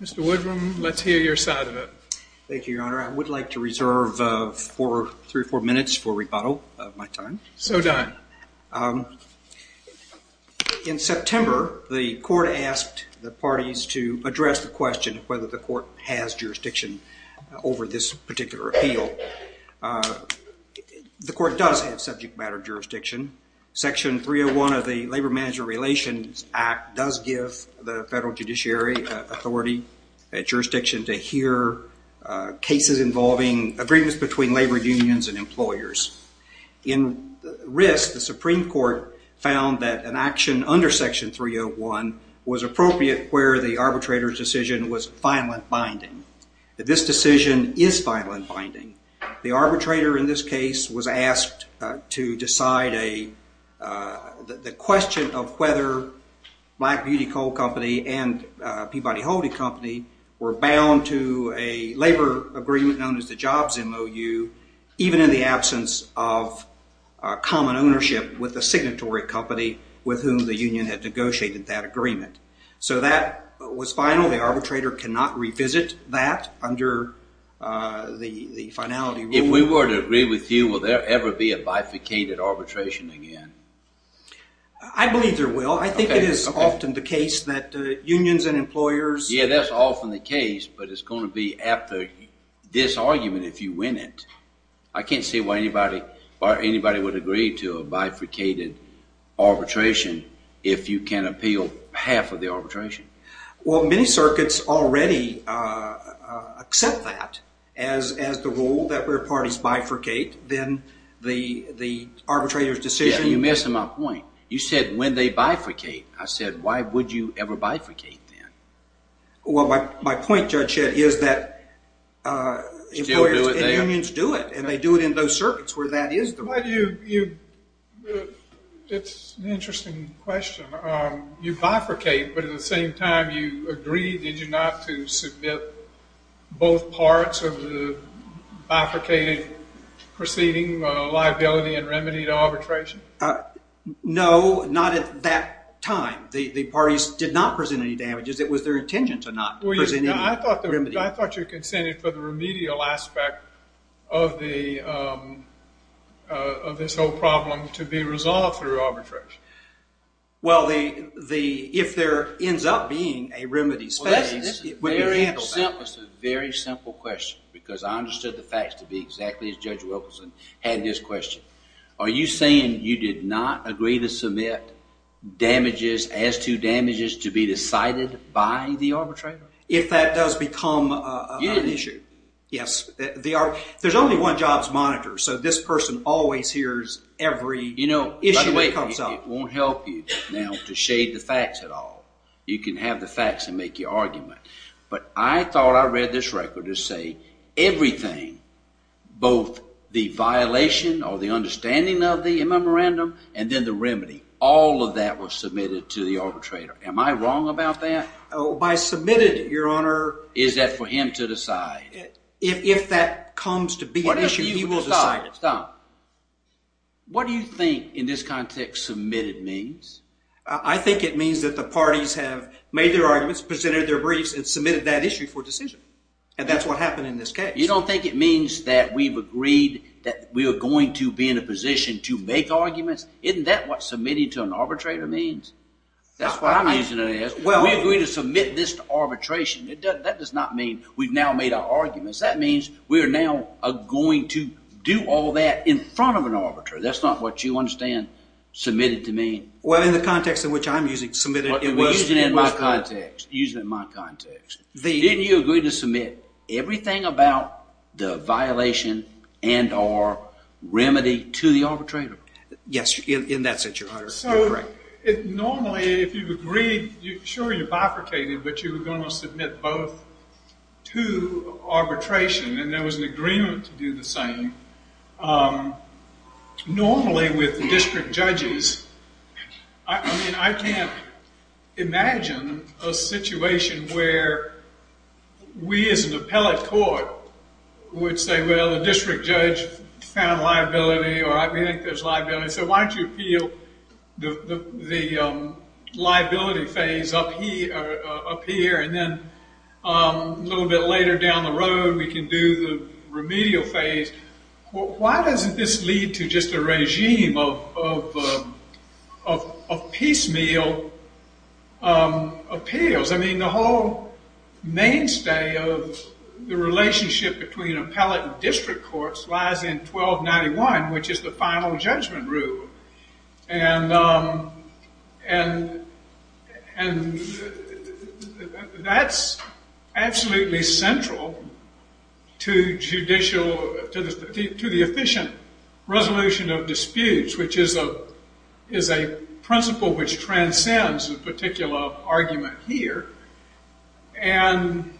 Mr. Woodrum, let's hear your side of it. Thank you, Your Honor. I would like to reserve three or four minutes for rebuttal of my time. So done. In September, the court asked the parties to address the question of whether the court has jurisdiction over this particular appeal. The court does have subject matter jurisdiction. Section 301 of the Labor Management Relations Act does give the federal judiciary authority at jurisdiction to hear cases involving agreements between labor unions and employers. In risk, the Supreme Court found that an action under Section 301 was appropriate where the arbitrator's decision was violent binding. This decision is violent binding. The arbitrator in this case was asked to decide the question of whether Black Beauty Coal Company and Peabody Holding Company were bound to a labor agreement known as the Jobs MOU, even in the absence of common ownership with the signatory company with whom the union had negotiated that agreement. So that was final. The arbitrator cannot revisit that under the finality rule. If we were to agree with you, will there ever be a bifurcated arbitration again? I believe there will. I think it is often the case that unions and employers... Yeah, that's often the case, but it's going to be after this argument if you win it. I can't see why anybody would agree to a bifurcated arbitration if you can appeal half of the arbitration. Well, many circuits already accept that as the rule that where parties bifurcate, then the arbitrator's decision... You're missing my point. You said when they bifurcate. I said why would you ever bifurcate then? Well, my point, Judge Shedd, is that employers and unions do it, and they do it in those circuits where that is the rule. It's an interesting question. You bifurcate, but at the same time you agree, did you not, to submit both parts of the bifurcated proceeding, liability and remedy to arbitration? No, not at that time. The parties did not present any damages. It was their intention to not present any remedy. I thought you consented for the remedial aspect of this whole problem to be resolved through arbitration. Well, if there ends up being a remedy... It's a very simple question, because I understood the facts to be exactly as Judge Wilkerson had this question. Are you saying you did not agree to submit damages as to damages to be decided by the arbitrator? If that does become an issue, yes. There's only one jobs monitor, so this person always hears every issue that comes up. You know, by the way, it won't help you now to shade the facts at all. You can have the facts and make your argument. But I thought I read this record to say everything, both the violation or the understanding of the memorandum and then the remedy, all of that was submitted to the arbitrator. Am I wrong about that? By submitted, Your Honor... Is that for him to decide? If that comes to be an issue, he will decide. Stop. What do you think in this context submitted means? I think it means that the parties have made their arguments, presented their briefs, and submitted that issue for decision. And that's what happened in this case. You don't think it means that we've agreed that we are going to be in a position to make arguments? Isn't that what submitting to an arbitrator means? That's what I'm using it as. We agreed to submit this to arbitration. That does not mean we've now made our arguments. That means we are now going to do all that in front of an arbiter. That's not what you understand submitted to mean. Well, in the context in which I'm using submitted... Use it in my context. Use it in my context. Didn't you agree to submit everything about the violation and or remedy to the arbitrator? Yes, in that sense, Your Honor. Normally, if you've agreed, sure you bifurcated, but you were going to submit both to arbitration and there was an agreement to do the same. Normally with district judges, I can't imagine a situation where we as an appellate court would say, well, the district judge found liability or I think there's liability. So why don't you appeal the liability phase up here and then a little bit later down the road we can do the remedial phase. Why doesn't this lead to just a regime of piecemeal appeals? I mean, the whole mainstay of the relationship between appellate and district courts lies in 1291, which is the final judgment rule. And that's absolutely central to the efficient resolution of disputes, which is a principle which transcends a particular argument here. And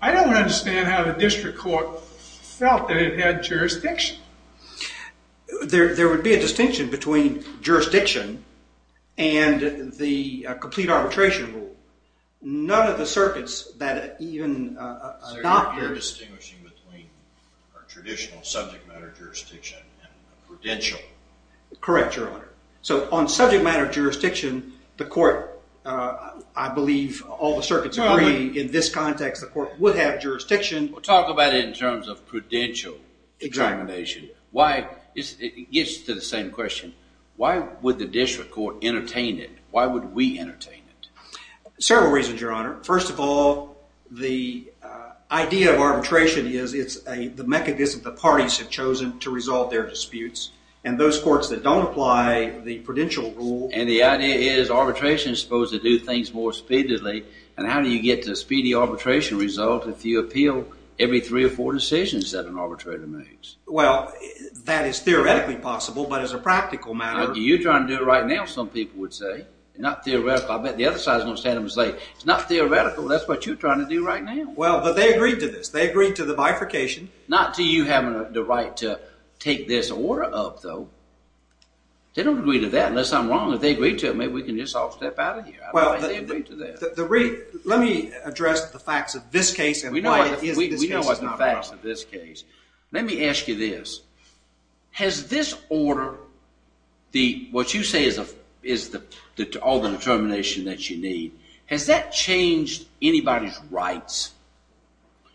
I don't understand how the district court felt that it had jurisdiction. There would be a distinction between jurisdiction and the complete arbitration rule. None of the circuits that even adopted... So you're distinguishing between a traditional subject matter jurisdiction and a prudential. Correct, Your Honor. So on subject matter jurisdiction, the court, I believe all the circuits agree in this context, the court would have jurisdiction. Talk about it in terms of prudential examination. It gets to the same question. Why would the district court entertain it? Why would we entertain it? Several reasons, Your Honor. First of all, the idea of arbitration is it's the mechanism the parties have chosen to resolve their disputes. And those courts that don't apply the prudential rule... And the idea is arbitration is supposed to do things more speedily. And how do you get to a speedy arbitration result if you appeal every three or four decisions that an arbitrator makes? Well, that is theoretically possible, but as a practical matter... You're trying to do it right now, some people would say. Not theoretical. I bet the other side is going to stand up and say, it's not theoretical. That's what you're trying to do right now. Well, but they agreed to this. They agreed to the bifurcation. Not to you having the right to take this order up, though. They don't agree to that, unless I'm wrong. If they agreed to it, maybe we can just all step out of here. Let me address the facts of this case and why it is that this case is not brought up. We know the facts of this case. Let me ask you this. Has this order, what you say is all the determination that you need, has that changed anybody's rights?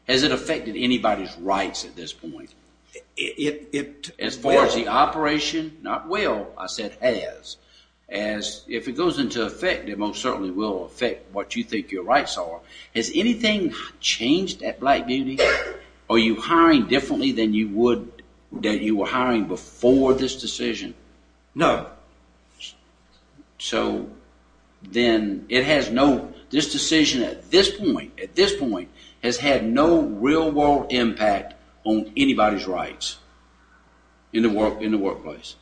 Has it affected anybody's rights at this point? It will. As far as the operation? Not will. I said has. If it goes into effect, it most certainly will affect what you think your rights are. Has anything changed at Black Beauty? Are you hiring differently than you were hiring before this decision? No. So then it has no, this decision at this point, at this point, has had no real world impact on anybody's rights in the workplace?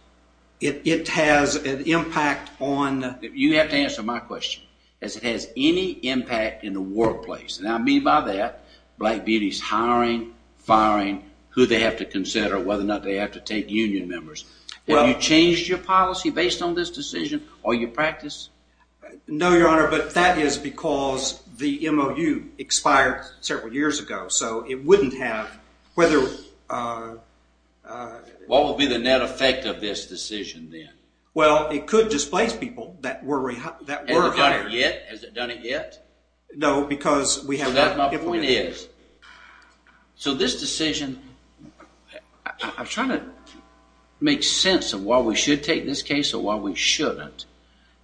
It has an impact on... You have to answer my question. Has it had any impact in the workplace? And I mean by that, Black Beauty's hiring, firing, who they have to consider, whether or not they have to take union members. Have you changed your policy based on this decision or your practice? No, Your Honor, but that is because the MOU expired several years ago, so it wouldn't have, whether... What would be the net effect of this decision then? Well, it could displace people that were hired. Has it done it yet? No, because we have not implemented it. So my point is, so this decision, I'm trying to make sense of why we should take this case or why we shouldn't,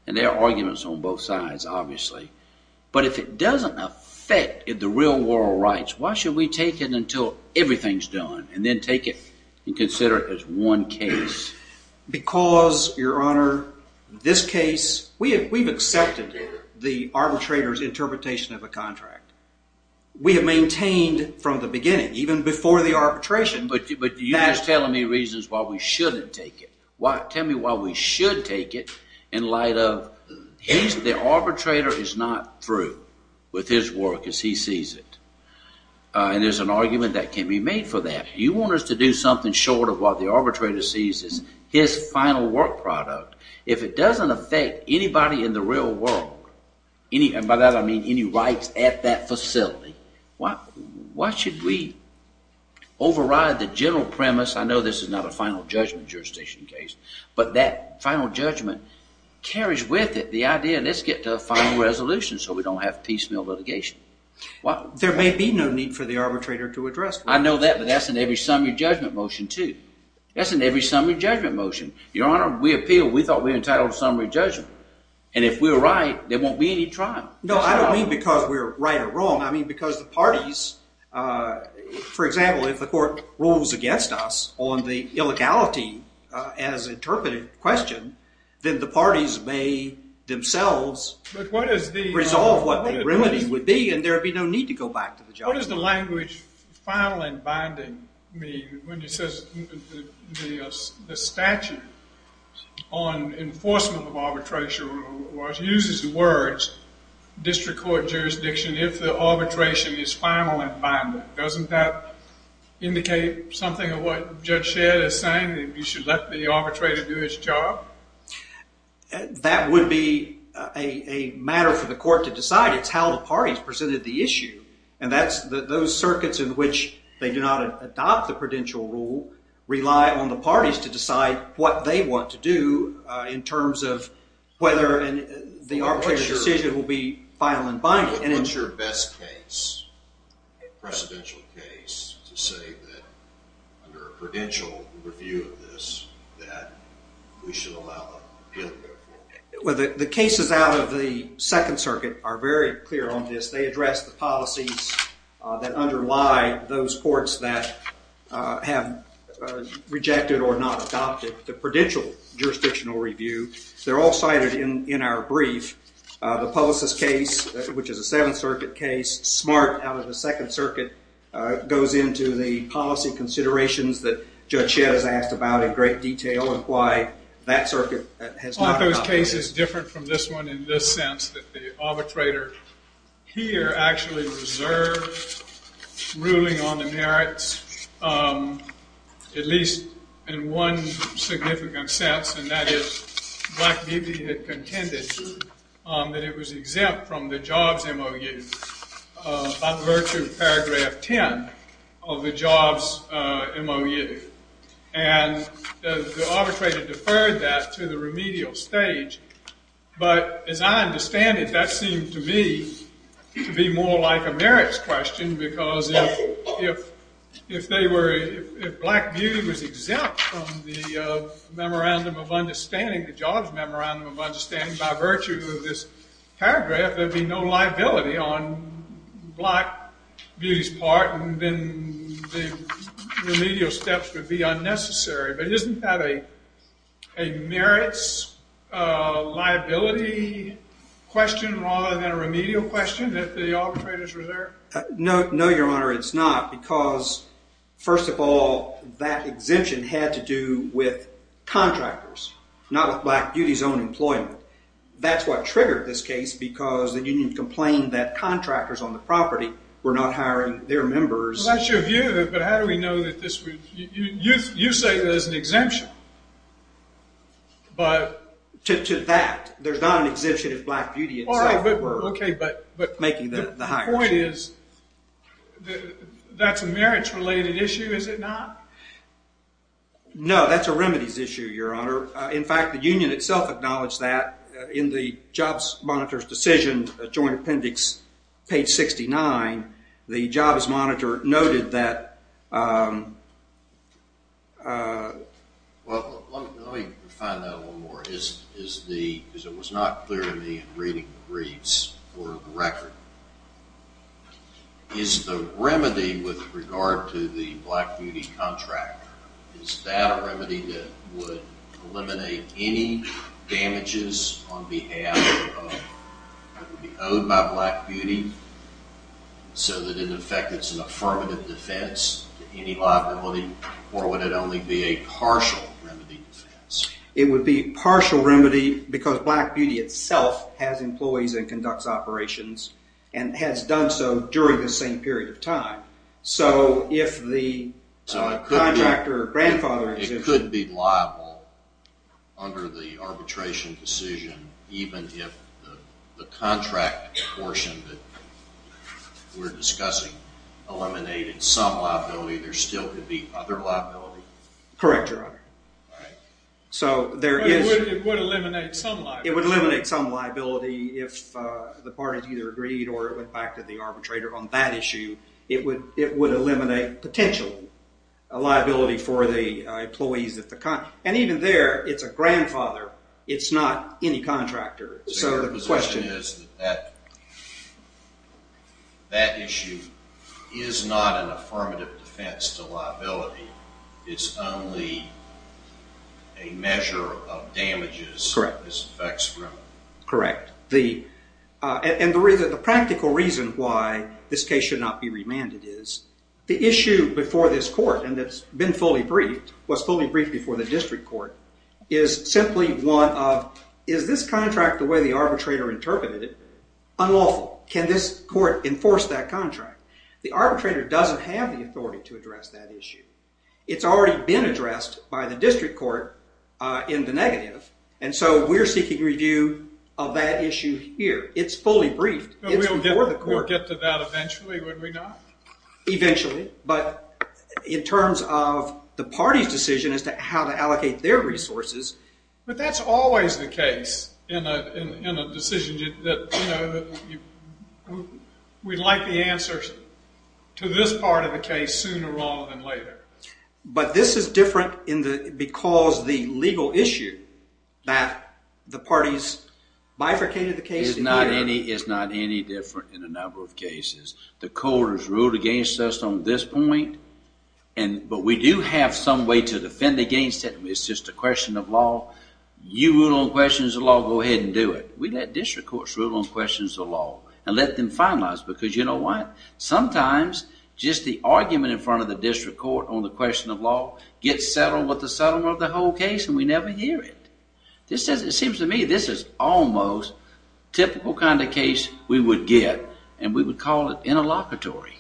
and there are arguments on both sides, obviously, but if it doesn't affect the real world rights, why should we take it until everything's done and then take it and consider it as one case? Because, Your Honor, this case, we've accepted the arbitrator's interpretation of a contract. We have maintained from the beginning, even before the arbitration... But you're just telling me reasons why we shouldn't take it. Tell me why we should take it in light of the arbitrator is not through with his work as he sees it, and there's an argument that can be made for that. You want us to do something short of what the arbitrator sees as his final work product. If it doesn't affect anybody in the real world, and by that I mean any rights at that facility, why should we override the general premise, I know this is not a final judgment jurisdiction case, but that final judgment carries with it the idea, let's get to a final resolution so we don't have piecemeal litigation. There may be no need for the arbitrator to address that. I know that, but that's in every summary judgment motion, too. That's in every summary judgment motion. Your Honor, we appealed, we thought we were entitled to summary judgment, and if we're right, there won't be any trial. No, I don't mean because we're right or wrong. I mean because the parties, for example, if the court rules against us on the illegality as interpreted question, then the parties may themselves resolve what the remedy would be, and there would be no need to go back to the judgment. What does the language final and binding mean when it says the statute on enforcement of arbitration rules uses the words district court jurisdiction if the arbitration is final and binding? Doesn't that indicate something of what Judge Shedd is saying, that you should let the arbitrator do his job? That would be a matter for the court to decide. It's how the parties presented the issue, and those circuits in which they do not adopt the prudential rule rely on the parties to decide what they want to do in terms of whether the arbitration decision will be final and binding. What's your best case, precedential case, to say that under a prudential review of this that we should allow an appeal to go forward? Well, the cases out of the Second Circuit are very clear on this. They address the policies that underlie those courts that have rejected or not adopted the prudential jurisdictional review. They're all cited in our brief. The Publicist case, which is a Seventh Circuit case, smart out of the Second Circuit, goes into the policy considerations that Judge Shedd has asked about in great detail and why that circuit has not adopted it. It's one of those cases different from this one in the sense that the arbitrator here actually reserves ruling on the merits, at least in one significant sense, and that is Black Beebe had contended that it was exempt from the jobs MOU by virtue of paragraph 10 of the jobs MOU. And the arbitrator deferred that to the remedial stage. But as I understand it, that seemed to me to be more like a merits question, because if Black Beebe was exempt from the jobs memorandum of understanding by virtue of this paragraph, there'd be no liability on Black Beebe's part, and then the remedial steps would be unnecessary. But isn't that a merits liability question rather than a remedial question that the arbitrators reserve? No, Your Honor, it's not, because, first of all, that exemption had to do with contractors, not with Black Beebe's own employment. That's what triggered this case, because the union complained that contractors on the property were not hiring their members. Well, that's your view, but how do we know that this was—you say there's an exemption, but— To that. There's not an exemption if Black Beebe itself were making the hires. Okay, but the point is that's a merits-related issue, is it not? No, that's a remedies issue, Your Honor. In fact, the union itself acknowledged that in the jobs monitor's decision, joint appendix page 69, the jobs monitor noted that— Well, let me find out a little more. Because it was not clear to me in reading the briefs or the record, is the remedy with regard to the Black Beauty contract, is that a remedy that would eliminate any damages on behalf of—that would be owed by Black Beauty, so that, in effect, it's an affirmative defense to any liability, or would it only be a partial remedy defense? It would be a partial remedy because Black Beauty itself has employees and conducts operations and has done so during the same period of time. So if the contractor or grandfather— So it could be liable under the arbitration decision, even if the contract portion that we're discussing eliminated some liability, there still could be other liability? Correct, Your Honor. So there is— It would eliminate some liability. It would eliminate some liability if the parties either agreed or it went back to the arbitrator on that issue. It would eliminate, potentially, a liability for the employees at the—and even there, it's a grandfather. It's not any contractor. So your position is that that issue is not an affirmative defense to liability. It's only a measure of damages. Correct. This affects— Correct. And the practical reason why this case should not be remanded is the issue before this court, and it's been fully briefed, was fully briefed before the district court, is simply one of, is this contract the way the arbitrator interpreted it? Unlawful. Can this court enforce that contract? The arbitrator doesn't have the authority to address that issue. It's already been addressed by the district court in the negative, and so we're seeking review of that issue here. It's fully briefed. It's before the court. We'll get to that eventually, would we not? Eventually, but in terms of the party's decision as to how to allocate their resources— But that's always the case in a decision that, you know, we'd like the answers to this part of the case sooner rather than later. But this is different because the legal issue that the parties bifurcated the case— It's not any different in a number of cases. The court has ruled against us on this point, but we do have some way to defend against it. It's just a question of law. You rule on questions of law. Go ahead and do it. We let district courts rule on questions of law and let them finalize because you know what? Sometimes just the argument in front of the district court on the question of law gets settled with the settlement of the whole case, and we never hear it. It seems to me this is almost typical kind of case we would get, and we would call it interlocutory.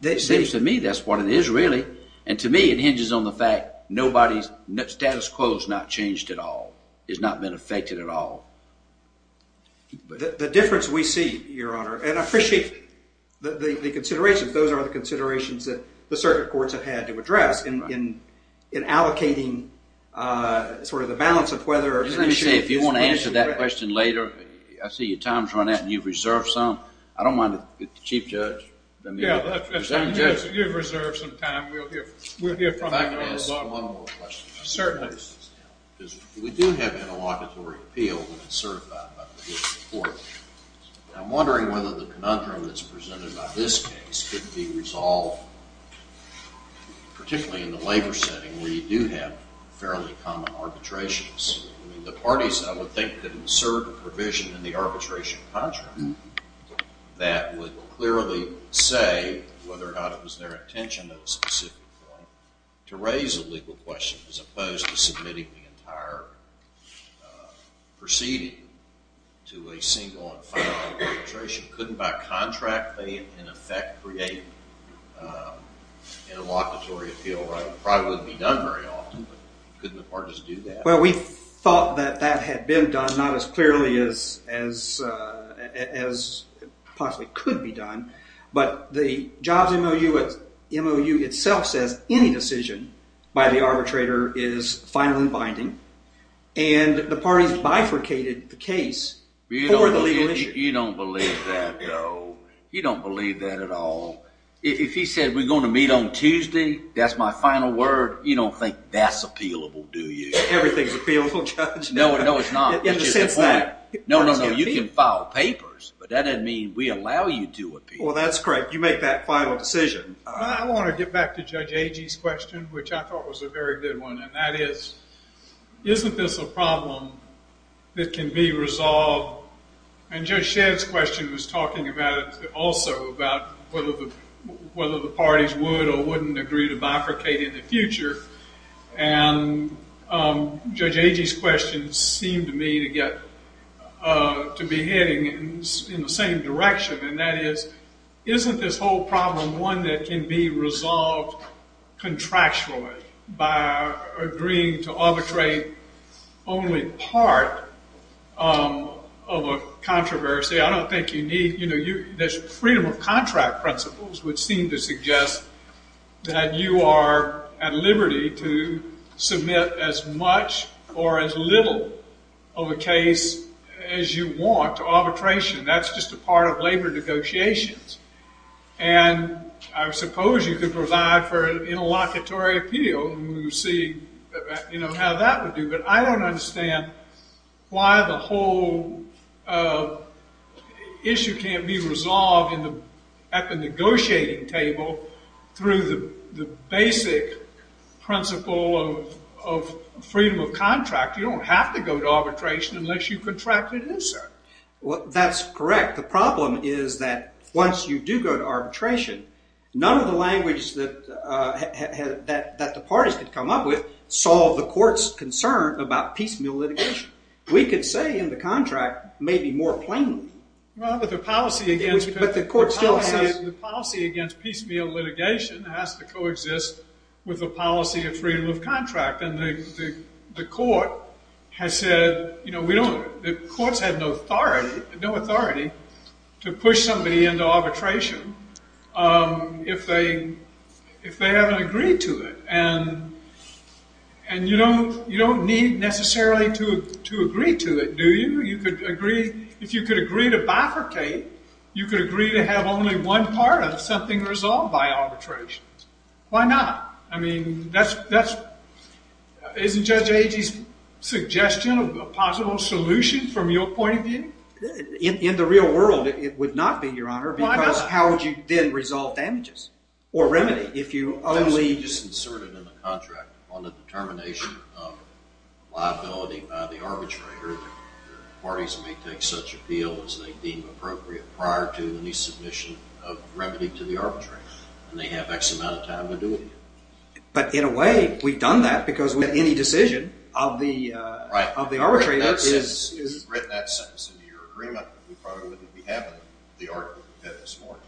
It seems to me that's what it is really, and to me it hinges on the fact nobody's status quo has not changed at all. It's not been affected at all. The difference we see, Your Honor, and I appreciate the considerations. Those are the considerations that the circuit courts have had to address in allocating sort of the balance of whether— Let me say, if you want to answer that question later, I see your time's run out and you've reserved some, I don't mind if the chief judge— Yeah, you've reserved some time. We'll hear from you. If I could ask one more question. Certainly. We do have interlocutory appeal when it's certified by the district court. I'm wondering whether the conundrum that's presented by this case could be resolved, particularly in the labor setting where you do have fairly common arbitrations. I mean, the parties, I would think, could serve a provision in the arbitration contract that would clearly say whether or not it was their intention at a specific point to raise a legal question as opposed to submitting the entire proceeding to a single and final arbitration. Couldn't by contract they, in effect, create an interlocutory appeal? It probably wouldn't be done very often, but couldn't the parties do that? Well, we thought that that had been done, not as clearly as possibly could be done, but the jobs MOU itself says any decision by the arbitrator is final and binding, and the parties bifurcated the case. You don't believe that, though. You don't believe that at all. If he said, we're going to meet on Tuesday, that's my final word, you don't think that's appealable, do you? Everything's appealable, Judge. No, no, it's not. It's just a point. No, no, no. You can file papers, but that doesn't mean we allow you to appeal. Well, that's correct. You make that final decision. I want to get back to Judge Agee's question, which I thought was a very good one, and that is, isn't this a problem that can be resolved? And Judge Shedd's question was talking about it also, about whether the parties would or wouldn't agree to bifurcate in the future. And Judge Agee's question seemed to me to be heading in the same direction, and that is, isn't this whole problem one that can be resolved contractually by agreeing to arbitrate only part of a controversy? I don't think you need, you know, there's freedom of contract principles which seem to suggest that you are at liberty to submit as much or as little of a case as you want to arbitration. That's just a part of labor negotiations. And I suppose you could provide for an interlocutory appeal, and we'll see, you know, how that would do. But I don't understand why the whole issue can't be resolved at the negotiating table through the basic principle of freedom of contract. You don't have to go to arbitration unless you contract an insert. Well, that's correct. The problem is that once you do go to arbitration, none of the language that the parties could come up with could solve the court's concern about piecemeal litigation. We could say in the contract maybe more plainly. Well, but the policy against piecemeal litigation has to coexist with the policy of freedom of contract. And the court has said, you know, the courts have no authority to push somebody into arbitration if they haven't agreed to it. And you don't need necessarily to agree to it, do you? You could agree. If you could agree to bifurcate, you could agree to have only one part of something resolved by arbitration. Why not? I mean, isn't Judge Agee's suggestion a possible solution from your point of view? In the real world, it would not be, Your Honor. Why not? Because how would you then resolve damages or remedy if you only just inserted in the contract on the determination of liability by the arbitrator, parties may take such appeal as they deem appropriate prior to any submission of remedy to the arbitrator. And they have X amount of time to do it. But in a way, we've done that because we've had any decision of the arbitrator. If you'd written that sentence into your agreement, we probably wouldn't be having the argument we've had this morning.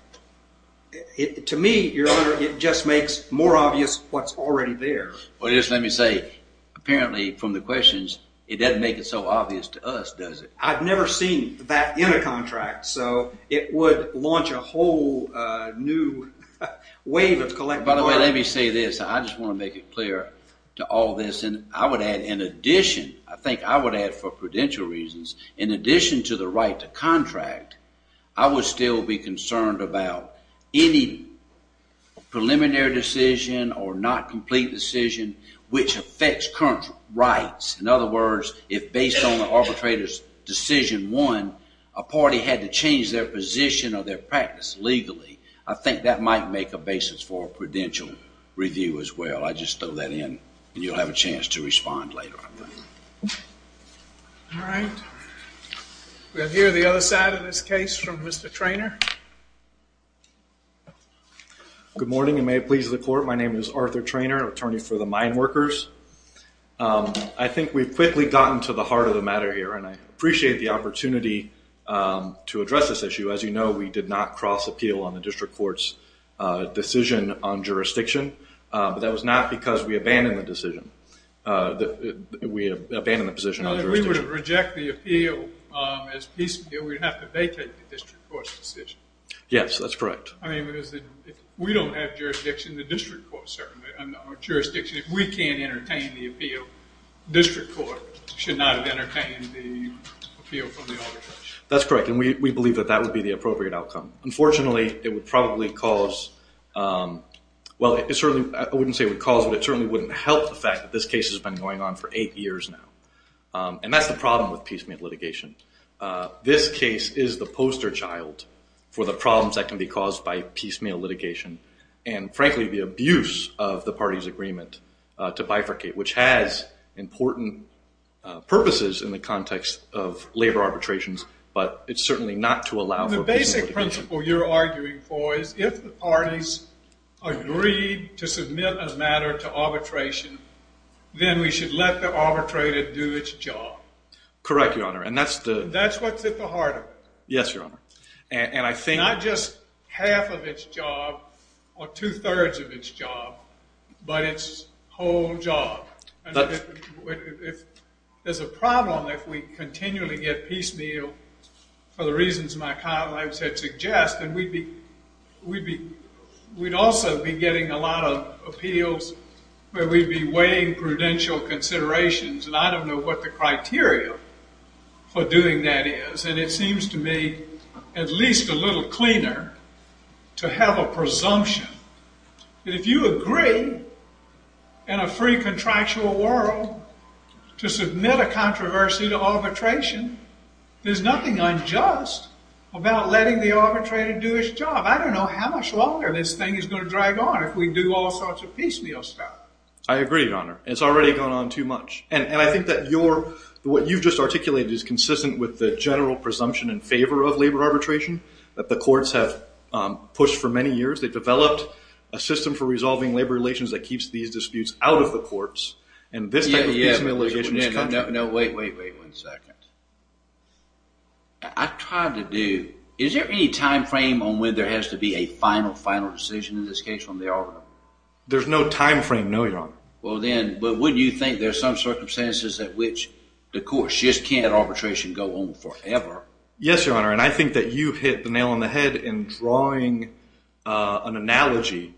To me, Your Honor, it just makes more obvious what's already there. Well, just let me say, apparently, from the questions, it doesn't make it so obvious to us, does it? I've never seen that in a contract. So it would launch a whole new wave of collective bargaining. By the way, let me say this. I just want to make it clear to all this. And I would add, in addition, I think I would add, for prudential reasons, in addition to the right to contract, I would still be concerned about any preliminary decision or not complete decision which affects current rights. In other words, if based on the arbitrator's decision one, a party had to change their position or their practice legally, I think that might make a basis for a prudential review as well. I just throw that in, and you'll have a chance to respond later. All right. We have here the other side of this case from Mr. Treanor. Good morning, and may it please the Court. My name is Arthur Treanor, attorney for the Mine Workers. I think we've quickly gotten to the heart of the matter here, and I appreciate the opportunity to address this issue. As you know, we did not cross-appeal on the district court's decision on jurisdiction. But that was not because we abandoned the decision. We abandoned the position on jurisdiction. If we were to reject the appeal as piecemeal, we'd have to vacate the district court's decision. Yes, that's correct. I mean, because if we don't have jurisdiction, the district court certainly. On jurisdiction, if we can't entertain the appeal, district court should not have entertained the appeal from the arbitration. That's correct, and we believe that that would be the appropriate outcome. Unfortunately, it would probably cause— well, I wouldn't say it would cause, but it certainly wouldn't help the fact that this case has been going on for eight years now, and that's the problem with piecemeal litigation. This case is the poster child for the problems that can be caused by piecemeal litigation and, frankly, the abuse of the parties' agreement to bifurcate, which has important purposes in the context of labor arbitrations, but it's certainly not to allow for piecemeal litigation. The basic principle you're arguing for is if the parties agreed to submit a matter to arbitration, then we should let the arbitrator do its job. Correct, Your Honor, and that's the— That's what's at the heart of it. Yes, Your Honor, and I think— Not just half of its job or two-thirds of its job, but its whole job. There's a problem if we continually get piecemeal for the reasons my colleagues had suggested. We'd also be getting a lot of appeals where we'd be weighing prudential considerations, and I don't know what the criteria for doing that is, and it seems to me at least a little cleaner to have a presumption that if you agree in a free contractual world to submit a controversy to arbitration, there's nothing unjust about letting the arbitrator do its job. I don't know how much longer this thing is going to drag on if we do all sorts of piecemeal stuff. I agree, Your Honor. It's already gone on too much, and I think that what you've just articulated is consistent with the general presumption in favor of labor arbitration that the courts have pushed for many years. They've developed a system for resolving labor relations that keeps these disputes out of the courts, and this type of piecemeal litigation is— No, wait, wait, wait one second. I've tried to do—is there any time frame on when there has to be a final, final decision in this case from the arbiter? There's no time frame, no, Your Honor. Well, then, but wouldn't you think there's some circumstances at which the courts just can't arbitration go on forever? Yes, Your Honor, and I think that you hit the nail on the head in drawing an analogy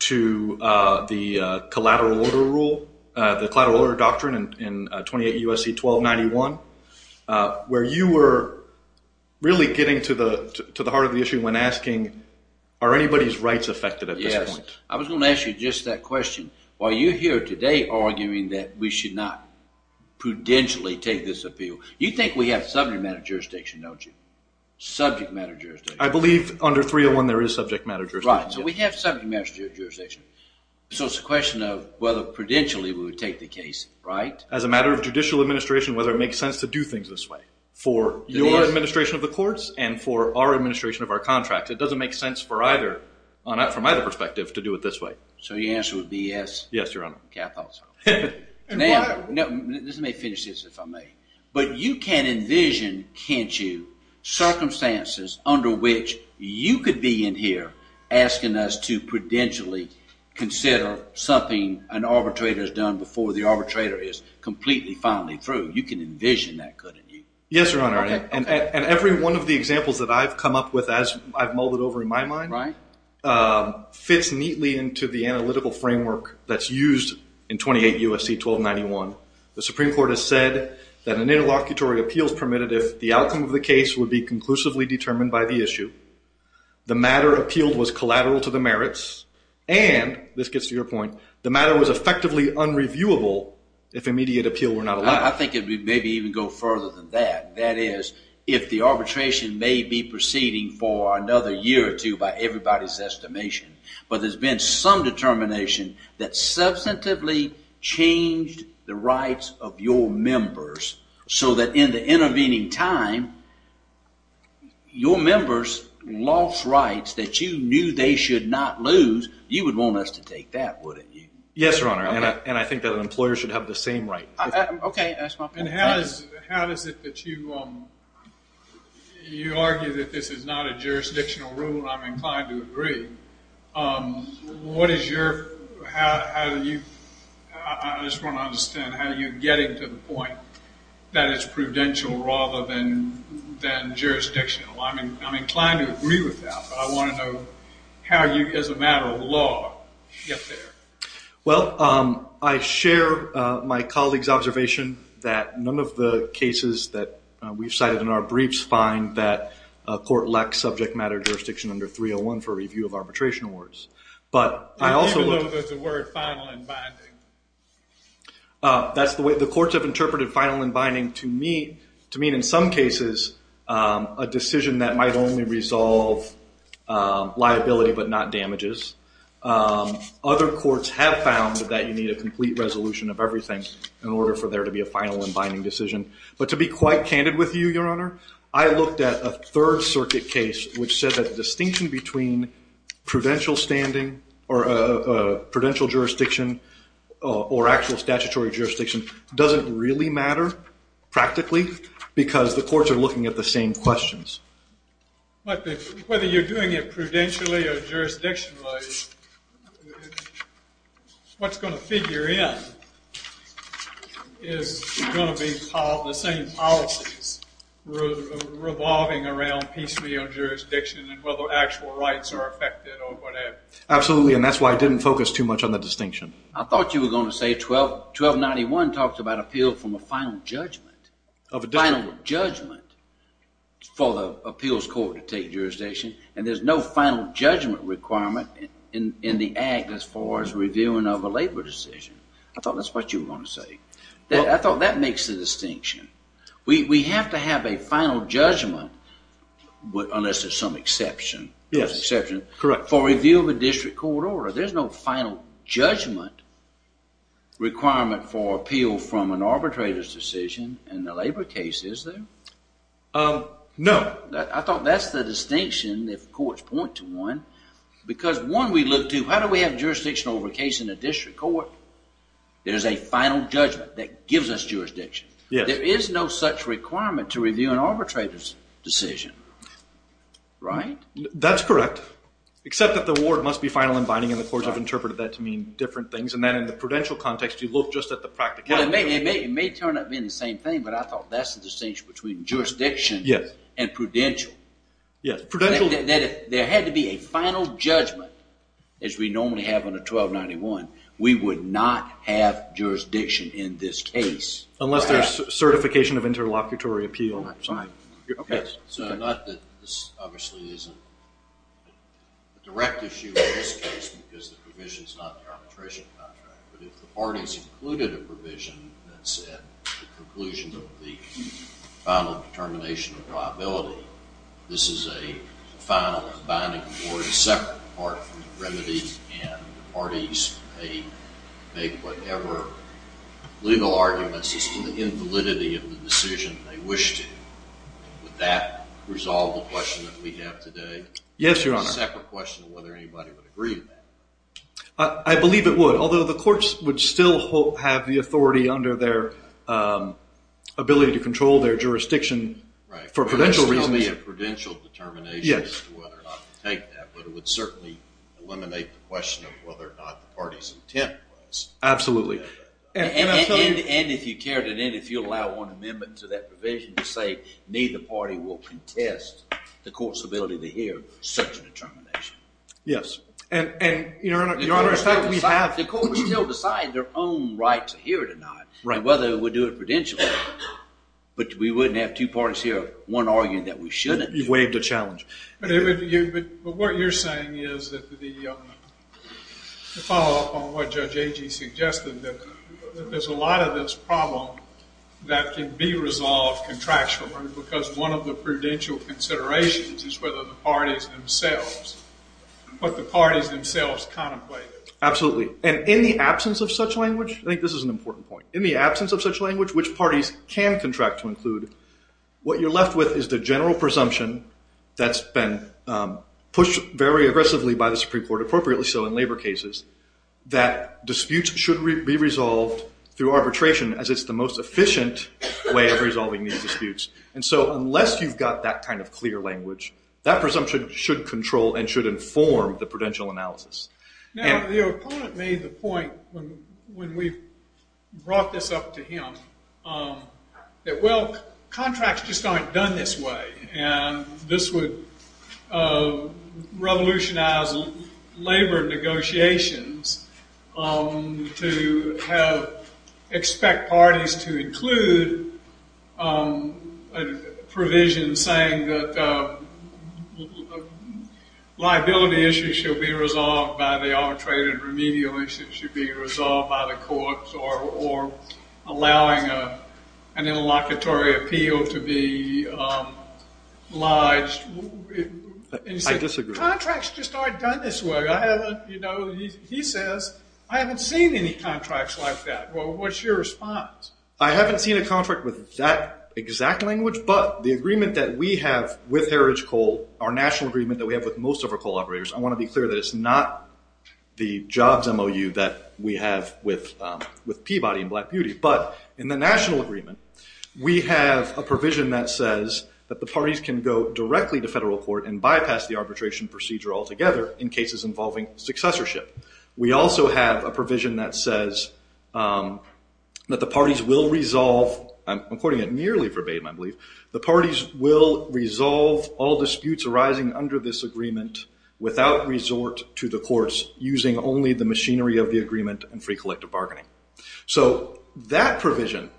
to the collateral order rule, the collateral order doctrine in 28 U.S.C. 1291, where you were really getting to the heart of the issue when asking, are anybody's rights affected at this point? Yes, I was going to ask you just that question. While you're here today arguing that we should not prudentially take this appeal, you think we have subject matter jurisdiction, don't you? Subject matter jurisdiction. I believe under 301 there is subject matter jurisdiction. Right, so we have subject matter jurisdiction. So it's a question of whether prudentially we would take the case, right? As a matter of judicial administration, whether it makes sense to do things this way. For your administration of the courts and for our administration of our contracts, it doesn't make sense for either, from either perspective, to do it this way. So your answer would be yes? Yes, Your Honor. Okay, I thought so. Now—this may finish this, if I may—but you can envision, can't you, circumstances under which you could be in here asking us to prudentially consider something an arbitrator has done before the arbitrator is completely finally through. You can envision that, couldn't you? Yes, Your Honor. And every one of the examples that I've come up with, as I've mulled it over in my mind, fits neatly into the analytical framework that's used in 28 U.S.C. 1291. The Supreme Court has said that an interlocutory appeal is permitted if the outcome of the case would be conclusively determined by the issue, the matter appealed was collateral to the merits, and—this gets to your point—the matter was effectively unreviewable if immediate appeal were not allowed. I think it would maybe even go further than that. That is, if the arbitration may be proceeding for another year or two by everybody's estimation, but there's been some determination that substantively changed the rights of your members so that in the intervening time your members lost rights that you knew they should not lose, you would want us to take that, wouldn't you? Yes, Your Honor, and I think that an employer should have the same right. Okay, that's my point. And how is it that you argue that this is not a jurisdictional rule? I'm inclined to agree. What is your—how do you—I just want to understand how you're getting to the point that it's prudential rather than jurisdictional. I'm inclined to agree with that, but I want to know how you, as a matter of law, get there. Well, I share my colleague's observation that none of the cases that we've cited in our briefs find that a court lacks subject matter jurisdiction under 301 for review of arbitration awards. But I also— Even though there's a word, final and binding? That's the way—the courts have interpreted final and binding to mean, in some cases, a decision that might only resolve liability but not damages. Other courts have found that you need a complete resolution of everything in order for there to be a final and binding decision. But to be quite candid with you, Your Honor, I looked at a Third Circuit case which said that the distinction between prudential standing or prudential jurisdiction or actual statutory jurisdiction doesn't really matter practically because the courts are looking at the same questions. Whether you're doing it prudentially or jurisdictionally, what's going to figure in is going to be the same policies revolving around piecemeal jurisdiction and whether actual rights are affected or whatever. Absolutely, and that's why I didn't focus too much on the distinction. I thought you were going to say 1291 talks about appeal from a final judgment. Final judgment for the appeals court to take jurisdiction, and there's no final judgment requirement in the act as far as reviewing of a labor decision. I thought that's what you were going to say. I thought that makes the distinction. We have to have a final judgment unless there's some exception. Yes, correct. For review of a district court order, there's no final judgment requirement for appeal from an arbitrator's decision in the labor case, is there? No. I thought that's the distinction if courts point to one because one, we look to how do we have jurisdiction over a case in a district court? There's a final judgment that gives us jurisdiction. There is no such requirement to review an arbitrator's decision, right? That's correct, except that the word must be final and binding, and the courts have interpreted that to mean different things, and then in the prudential context, you look just at the practicality. It may turn out to be the same thing, but I thought that's the distinction between jurisdiction and prudential. Yes. There had to be a final judgment as we normally have on a 1291. We would not have jurisdiction in this case. Unless there's certification of interlocutory appeal. Fine. So not that this obviously isn't a direct issue in this case because the provision is not the arbitration contract, but if the parties included a provision that said the conclusion of the final determination of liability, this is a final and binding award, a separate part from the remedies, and the parties may make whatever legal arguments as to the invalidity of the decision they wish to. Would that resolve the question that we have today? Yes, Your Honor. It's a separate question of whether anybody would agree with that. I believe it would, although the courts would still have the authority under their ability to control their jurisdiction for prudential reasons. It would still be a prudential determination as to whether or not to take that, but it would certainly eliminate the question of whether or not the party's intent was. Absolutely. And if you carried it in, if you allow one amendment to that provision to say neither party will contest the court's ability to hear such a determination. Yes. And, Your Honor, in fact, we have... The courts still decide their own right to hear it or not, whether it would do it prudentially, but we wouldn't have two parties here, one arguing that we shouldn't. You waived a challenge. But what you're saying is that the follow-up on what Judge Agee suggested, that there's a lot of this problem that can be resolved contractually because one of the prudential considerations is whether the parties themselves contemplate it. Absolutely. And in the absence of such language, I think this is an important point. In the absence of such language, which parties can contract to include, what you're left with is the general presumption that's been pushed very aggressively by the Supreme Court, appropriately so in labor cases, that disputes should be resolved through arbitration as it's the most efficient way of resolving these disputes. And so unless you've got that kind of clear language, that presumption should control and should inform the prudential analysis. Now, the opponent made the point when we brought this up to him that, well, contracts just aren't done this way, and this would revolutionize labor negotiations to have... ...a provision saying that liability issues should be resolved by the arbitrated remedial issue should be resolved by the courts or allowing an interlocutory appeal to be lodged. I disagree. Contracts just aren't done this way. He says, I haven't seen any contracts like that. Well, what's your response? I haven't seen a contract with that exact language, but the agreement that we have with Heritage Coal, our national agreement that we have with most of our coal operators, I want to be clear that it's not the jobs MOU that we have with Peabody and Black Beauty, but in the national agreement, we have a provision that says that the parties can go directly to federal court and bypass the arbitration procedure altogether in cases involving successorship. We also have a provision that says that the parties will resolve, I'm quoting it nearly verbatim, I believe, the parties will resolve all disputes arising under this agreement without resort to the courts using only the machinery of the agreement and free collective bargaining. So that provision,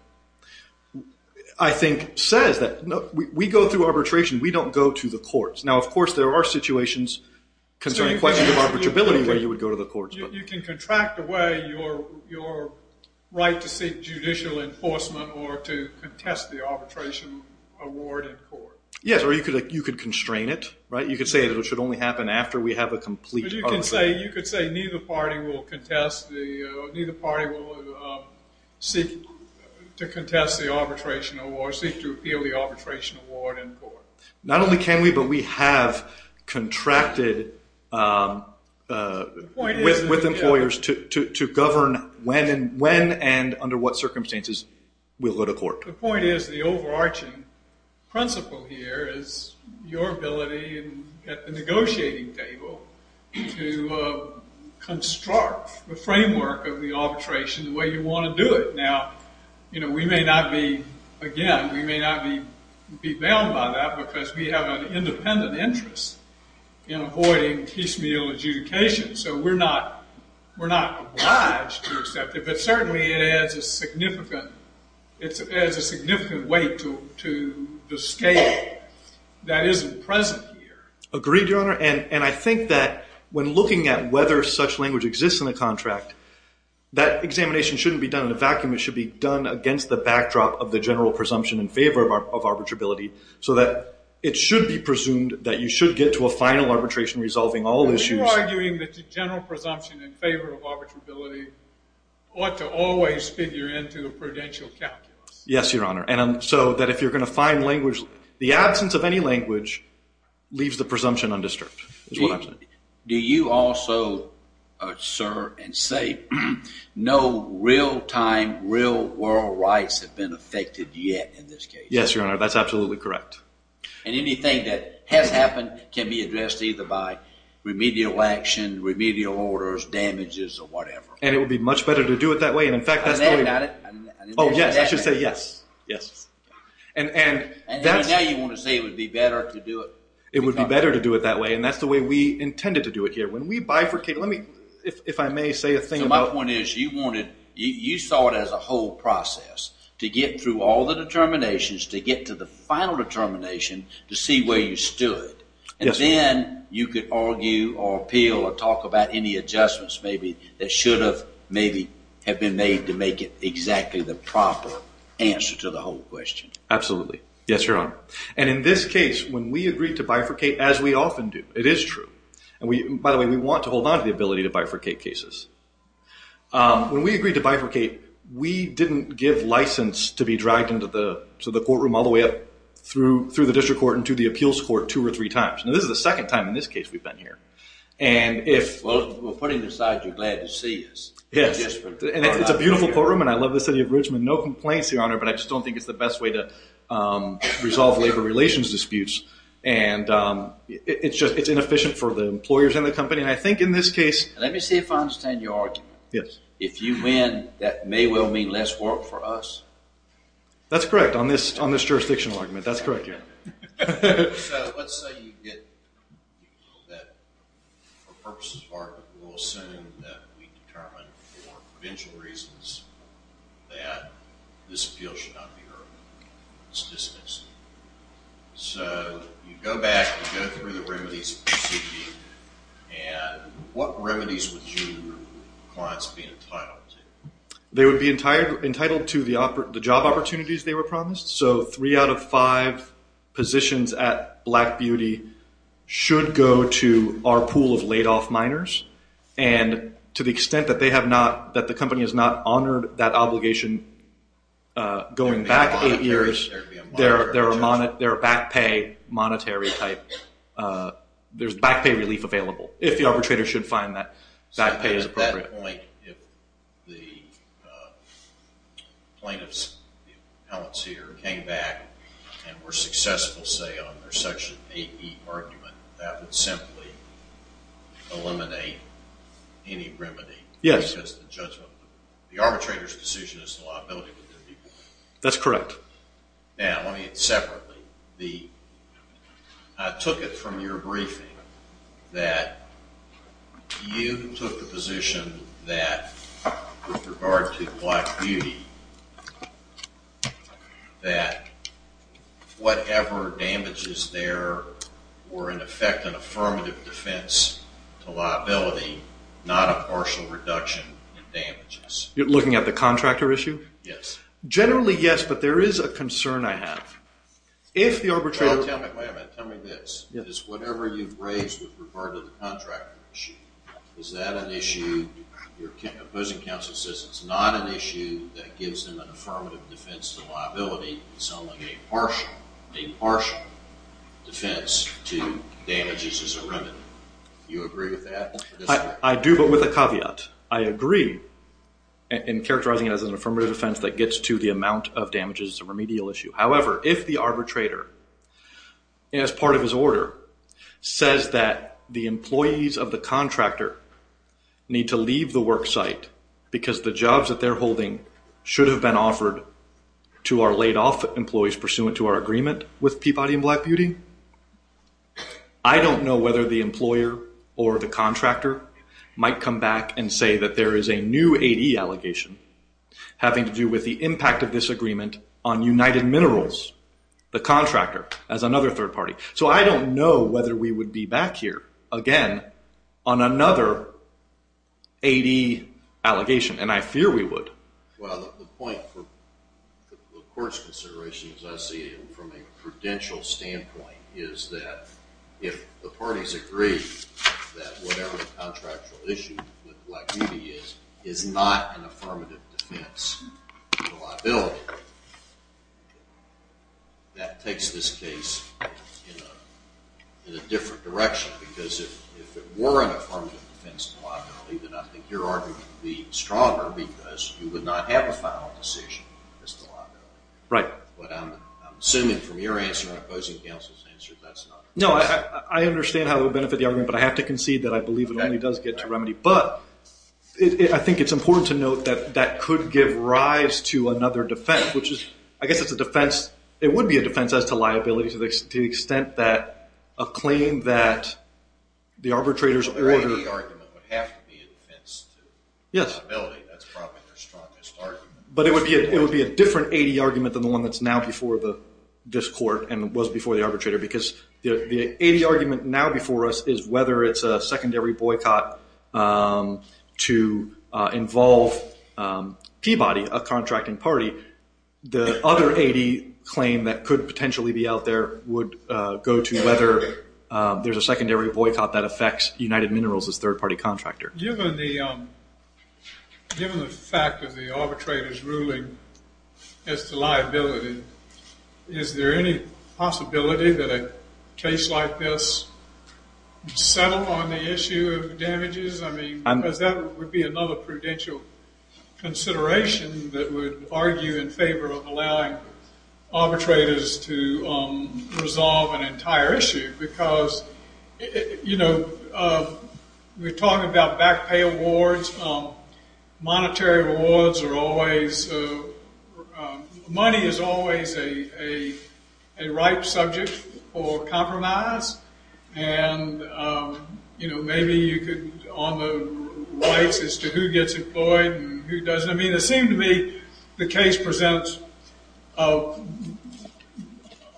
I think, says that we go through arbitration, we don't go to the courts. Now, of course, there are situations concerning questions of arbitrability where you would go to the courts. You can contract away your right to seek judicial enforcement or to contest the arbitration award in court. Yes, or you could constrain it. You could say that it should only happen after we have a complete arbitration. You could say neither party will contest the arbitration award or seek to appeal the arbitration award in court. Not only can we, but we have contracted with employers to govern when and under what circumstances we'll go to court. The point is the overarching principle here is your ability at the negotiating table to construct the framework of the arbitration the way you want to do it. Now, again, we may not be bound by that because we have an independent interest in avoiding piecemeal adjudication. So we're not obliged to accept it, but certainly it adds a significant weight to the scale that isn't present here. Agreed, Your Honor. And I think that when looking at whether such language exists in the contract, that examination shouldn't be done in a vacuum. It should be done against the backdrop of the general presumption in favor of arbitrability so that it should be presumed that you should get to a final arbitration resolving all issues. Are you arguing that the general presumption in favor of arbitrability ought to always fit your end to the prudential calculus? Yes, Your Honor. And so that if you're going to find language, the absence of any language leaves the presumption undisturbed is what I'm saying. Do you also, sir, and say, no real-time, real-world rights have been affected yet in this case? Yes, Your Honor. That's absolutely correct. And anything that has happened can be addressed either by remedial action, remedial orders, damages, or whatever. And it would be much better to do it that way. And, in fact, that's the way— I meant that. Oh, yes. I should say yes. Yes. And now you want to say it would be better to do it— It would be better to do it that way, and that's the way we intended to do it here. When we bifurcate— Let me, if I may, say a thing about— So my point is you wanted— you saw it as a whole process to get through all the determinations to get to the final determination to see where you stood. Yes. And then you could argue or appeal or talk about any adjustments maybe that should have maybe have been made to make it exactly the proper answer to the whole question. Absolutely. Yes, Your Honor. And in this case, when we agreed to bifurcate, as we often do—it is true. And, by the way, we want to hold on to the ability to bifurcate cases. When we agreed to bifurcate, we didn't give license to be dragged into the courtroom all the way up through the district court into the appeals court two or three times. Now, this is the second time in this case we've been here. And if— Well, we're putting aside you're glad to see us. Yes. No complaints, Your Honor, but I just don't think it's the best way to resolve labor relations disputes. And it's inefficient for the employers and the company. And I think in this case— Let me see if I understand your argument. Yes. If you win, that may well mean less work for us. That's correct on this jurisdictional argument. That's correct, Your Honor. Let's say you get—for purposes of argument, we'll assume that we determine for provincial reasons that this appeal should not be heard. It's dismissed. So you go back, you go through the remedies, and what remedies would your clients be entitled to? They would be entitled to the job opportunities they were promised. So three out of five positions at Black Beauty should go to our pool of laid-off minors. And to the extent that they have not— that the company has not honored that obligation going back eight years, there are back pay monetary type— there's back pay relief available. If the arbitrator should find that back pay is appropriate. So at that point, if the plaintiffs, the appellants here, came back and were successful, say, on their Section 8e argument, that would simply eliminate any remedy. Yes. That's the judgment. The arbitrator's decision is the liability with their people. That's correct. Now, let me—separately, the—I took it from your briefing that you took the position that, with regard to Black Beauty, that whatever damage is there were, in effect, an affirmative defense to liability, not a partial reduction in damages. You're looking at the contractor issue? Yes. Generally, yes, but there is a concern I have. If the arbitrator— Well, tell me this. Is whatever you've raised with regard to the contractor issue, is that an issue—your opposing counsel says it's not an issue that gives them an affirmative defense to liability. It's only a partial defense to damages as a remedy. Do you agree with that? I do, but with a caveat. I agree in characterizing it as an affirmative defense that gets to the amount of damages as a remedial issue. However, if the arbitrator, as part of his order, says that the employees of the contractor need to leave the work site because the jobs that they're holding should have been offered to our laid-off employees pursuant to our agreement with Peabody and Black Beauty, I don't know whether the employer or the contractor might come back and say that there is a new AD allegation having to do with the impact of this agreement on United Minerals, the contractor, as another third party. So I don't know whether we would be back here again on another AD allegation, and I fear we would. Well, the point for the court's consideration, as I see it, from a prudential standpoint is that if the parties agree that whatever the contractual issue with Black Beauty is, is not an affirmative defense to liability, that takes this case in a different direction because if it were an affirmative defense to liability, then I think your argument would be stronger because you would not have a final decision as to liability. Right. But I'm assuming from your answer and opposing counsel's answer that's not the case. No, I understand how it would benefit the argument, but I have to concede that I believe it only does get to remedy. But I think it's important to note that that could give rise to another defense, which is I guess it's a defense. It would be a defense as to liability to the extent that a claim that the arbitrator's order. The AD argument would have to be a defense to liability. That's probably your strongest argument. But it would be a different AD argument than the one that's now before this court and was before the arbitrator because the AD argument now before us is whether it's a secondary boycott to involve Peabody, a contracting party. The other AD claim that could potentially be out there would go to whether there's a secondary boycott that affects United Minerals' third-party contractor. Given the fact of the arbitrator's ruling as to liability, is there any possibility that a case like this would settle on the issue of damages? I mean, because that would be another prudential consideration that would argue in favor of allowing arbitrators to resolve an entire issue because, you know, we're talking about back pay awards. Monetary rewards are always – money is always a ripe subject for compromise. And, you know, maybe you could – on the rights as to who gets employed and who doesn't. I mean, it seemed to me the case presents a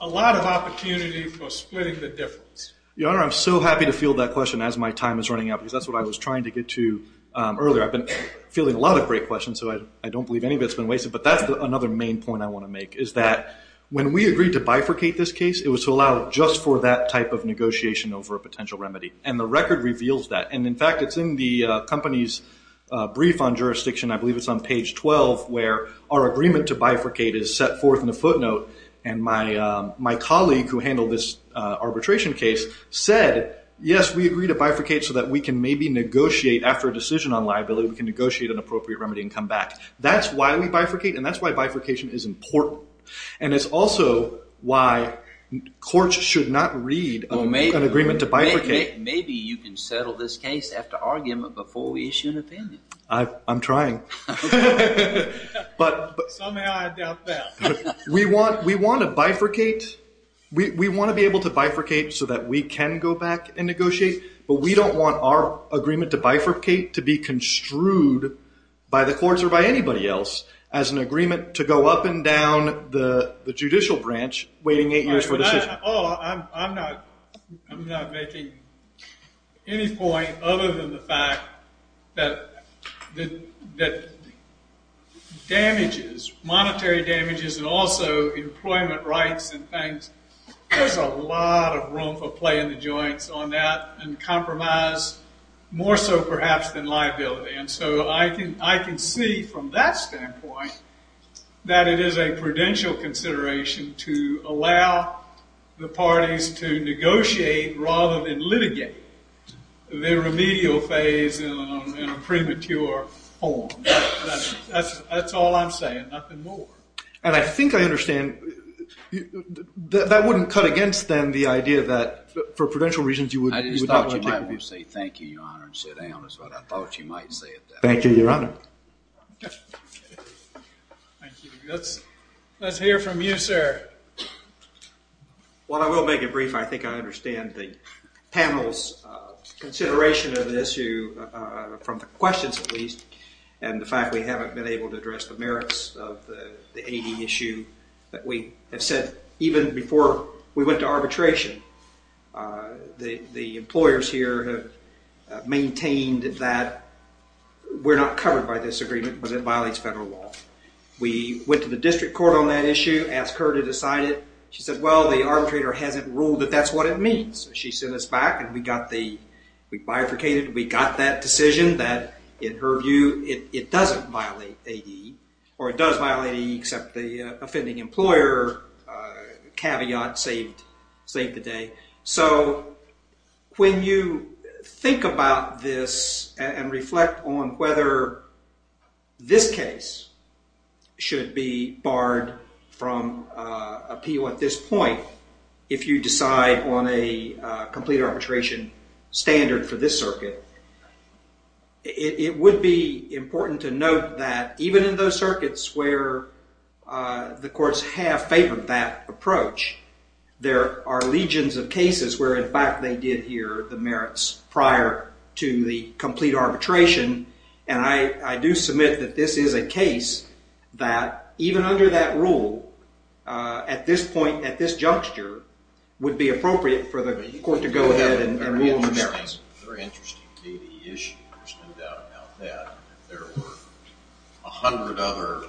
lot of opportunity for splitting the difference. Your Honor, I'm so happy to field that question as my time is running out because that's what I was trying to get to earlier. I've been fielding a lot of great questions, so I don't believe any of it's been wasted. But that's another main point I want to make is that when we agreed to bifurcate this case, it was to allow just for that type of negotiation over a potential remedy. And the record reveals that. And, in fact, it's in the company's brief on jurisdiction. I believe it's on page 12 where our agreement to bifurcate is set forth in the footnote. And my colleague who handled this arbitration case said, yes, we agreed to bifurcate so that we can maybe negotiate after a decision on liability. We can negotiate an appropriate remedy and come back. That's why we bifurcate, and that's why bifurcation is important. And it's also why courts should not read an agreement to bifurcate. Maybe you can settle this case after argument before we issue an opinion. I'm trying. Somehow I doubt that. We want to bifurcate. We want to be able to bifurcate so that we can go back and negotiate, but we don't want our agreement to bifurcate to be construed by the courts or by anybody else as an agreement to go up and down the judicial branch waiting eight years for a decision. I'm not making any point other than the fact that damages, monetary damages and also employment rights and things, there's a lot of room for play in the joints on that and compromise more so perhaps than liability. And so I can see from that standpoint that it is a prudential consideration to allow the parties to negotiate rather than litigate their remedial phase in a premature form. That's all I'm saying, nothing more. And I think I understand. That wouldn't cut against them, the idea that for prudential reasons you would not want to take them on. I'll let you say thank you, Your Honor, and sit down is what I thought you might say. Thank you, Your Honor. Let's hear from you, sir. Well, I will make it brief. I think I understand the panel's consideration of the issue from the questions, at least, and the fact we haven't been able to address the merits of the AD issue. We have said even before we went to arbitration, the employers here have maintained that we're not covered by this agreement but it violates federal law. We went to the district court on that issue, asked her to decide it. She said, well, the arbitrator hasn't ruled that that's what it means. She sent us back and we got the, we bifurcated, we got that decision that, in her view, it doesn't violate AD or it does violate AD except the offending employer caveat saved the day. So when you think about this and reflect on whether this case should be barred from appeal at this point, if you decide on a complete arbitration standard for this circuit, it would be important to note that even in those circuits where the courts have favored that approach, there are legions of cases where, in fact, they did adhere the merits prior to the complete arbitration. And I do submit that this is a case that, even under that rule, at this point, at this juncture, would be appropriate for the court to go ahead and rule on the merits. Very interesting AD issue. There's no doubt about that. There were a hundred other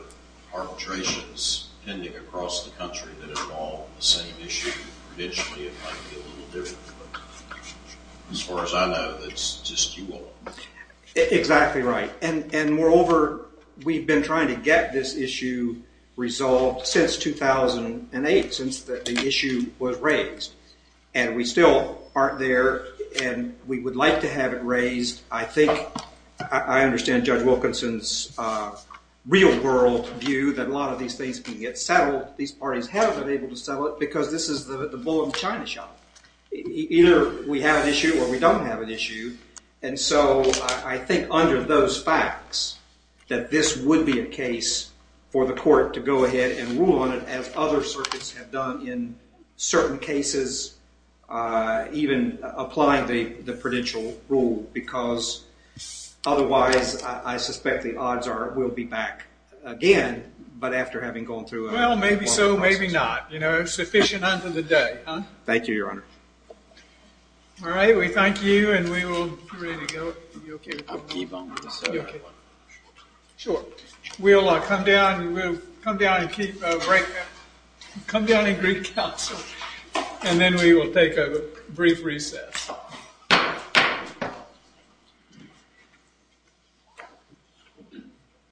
arbitrations pending across the country that involved the same issue. Traditionally, it might be a little different. But as far as I know, that's just you all. Exactly right. And moreover, we've been trying to get this issue resolved since 2008, since the issue was raised. And we still aren't there, and we would like to have it raised. I think I understand Judge Wilkinson's real-world view that a lot of these things can get settled. These parties have been able to settle it because this is the bull of the China shop. Either we have an issue or we don't have an issue. And so I think, under those facts, that this would be a case for the court to go ahead and rule on it, as other circuits have done in certain cases, even applying the prudential rule. Because otherwise, I suspect the odds will be back again, but after having gone through a long process. Well, maybe so, maybe not. You know, sufficient under the day. Thank you, Your Honor. All right, we thank you, and we will come down and greet counsel. And then we will take a brief recess.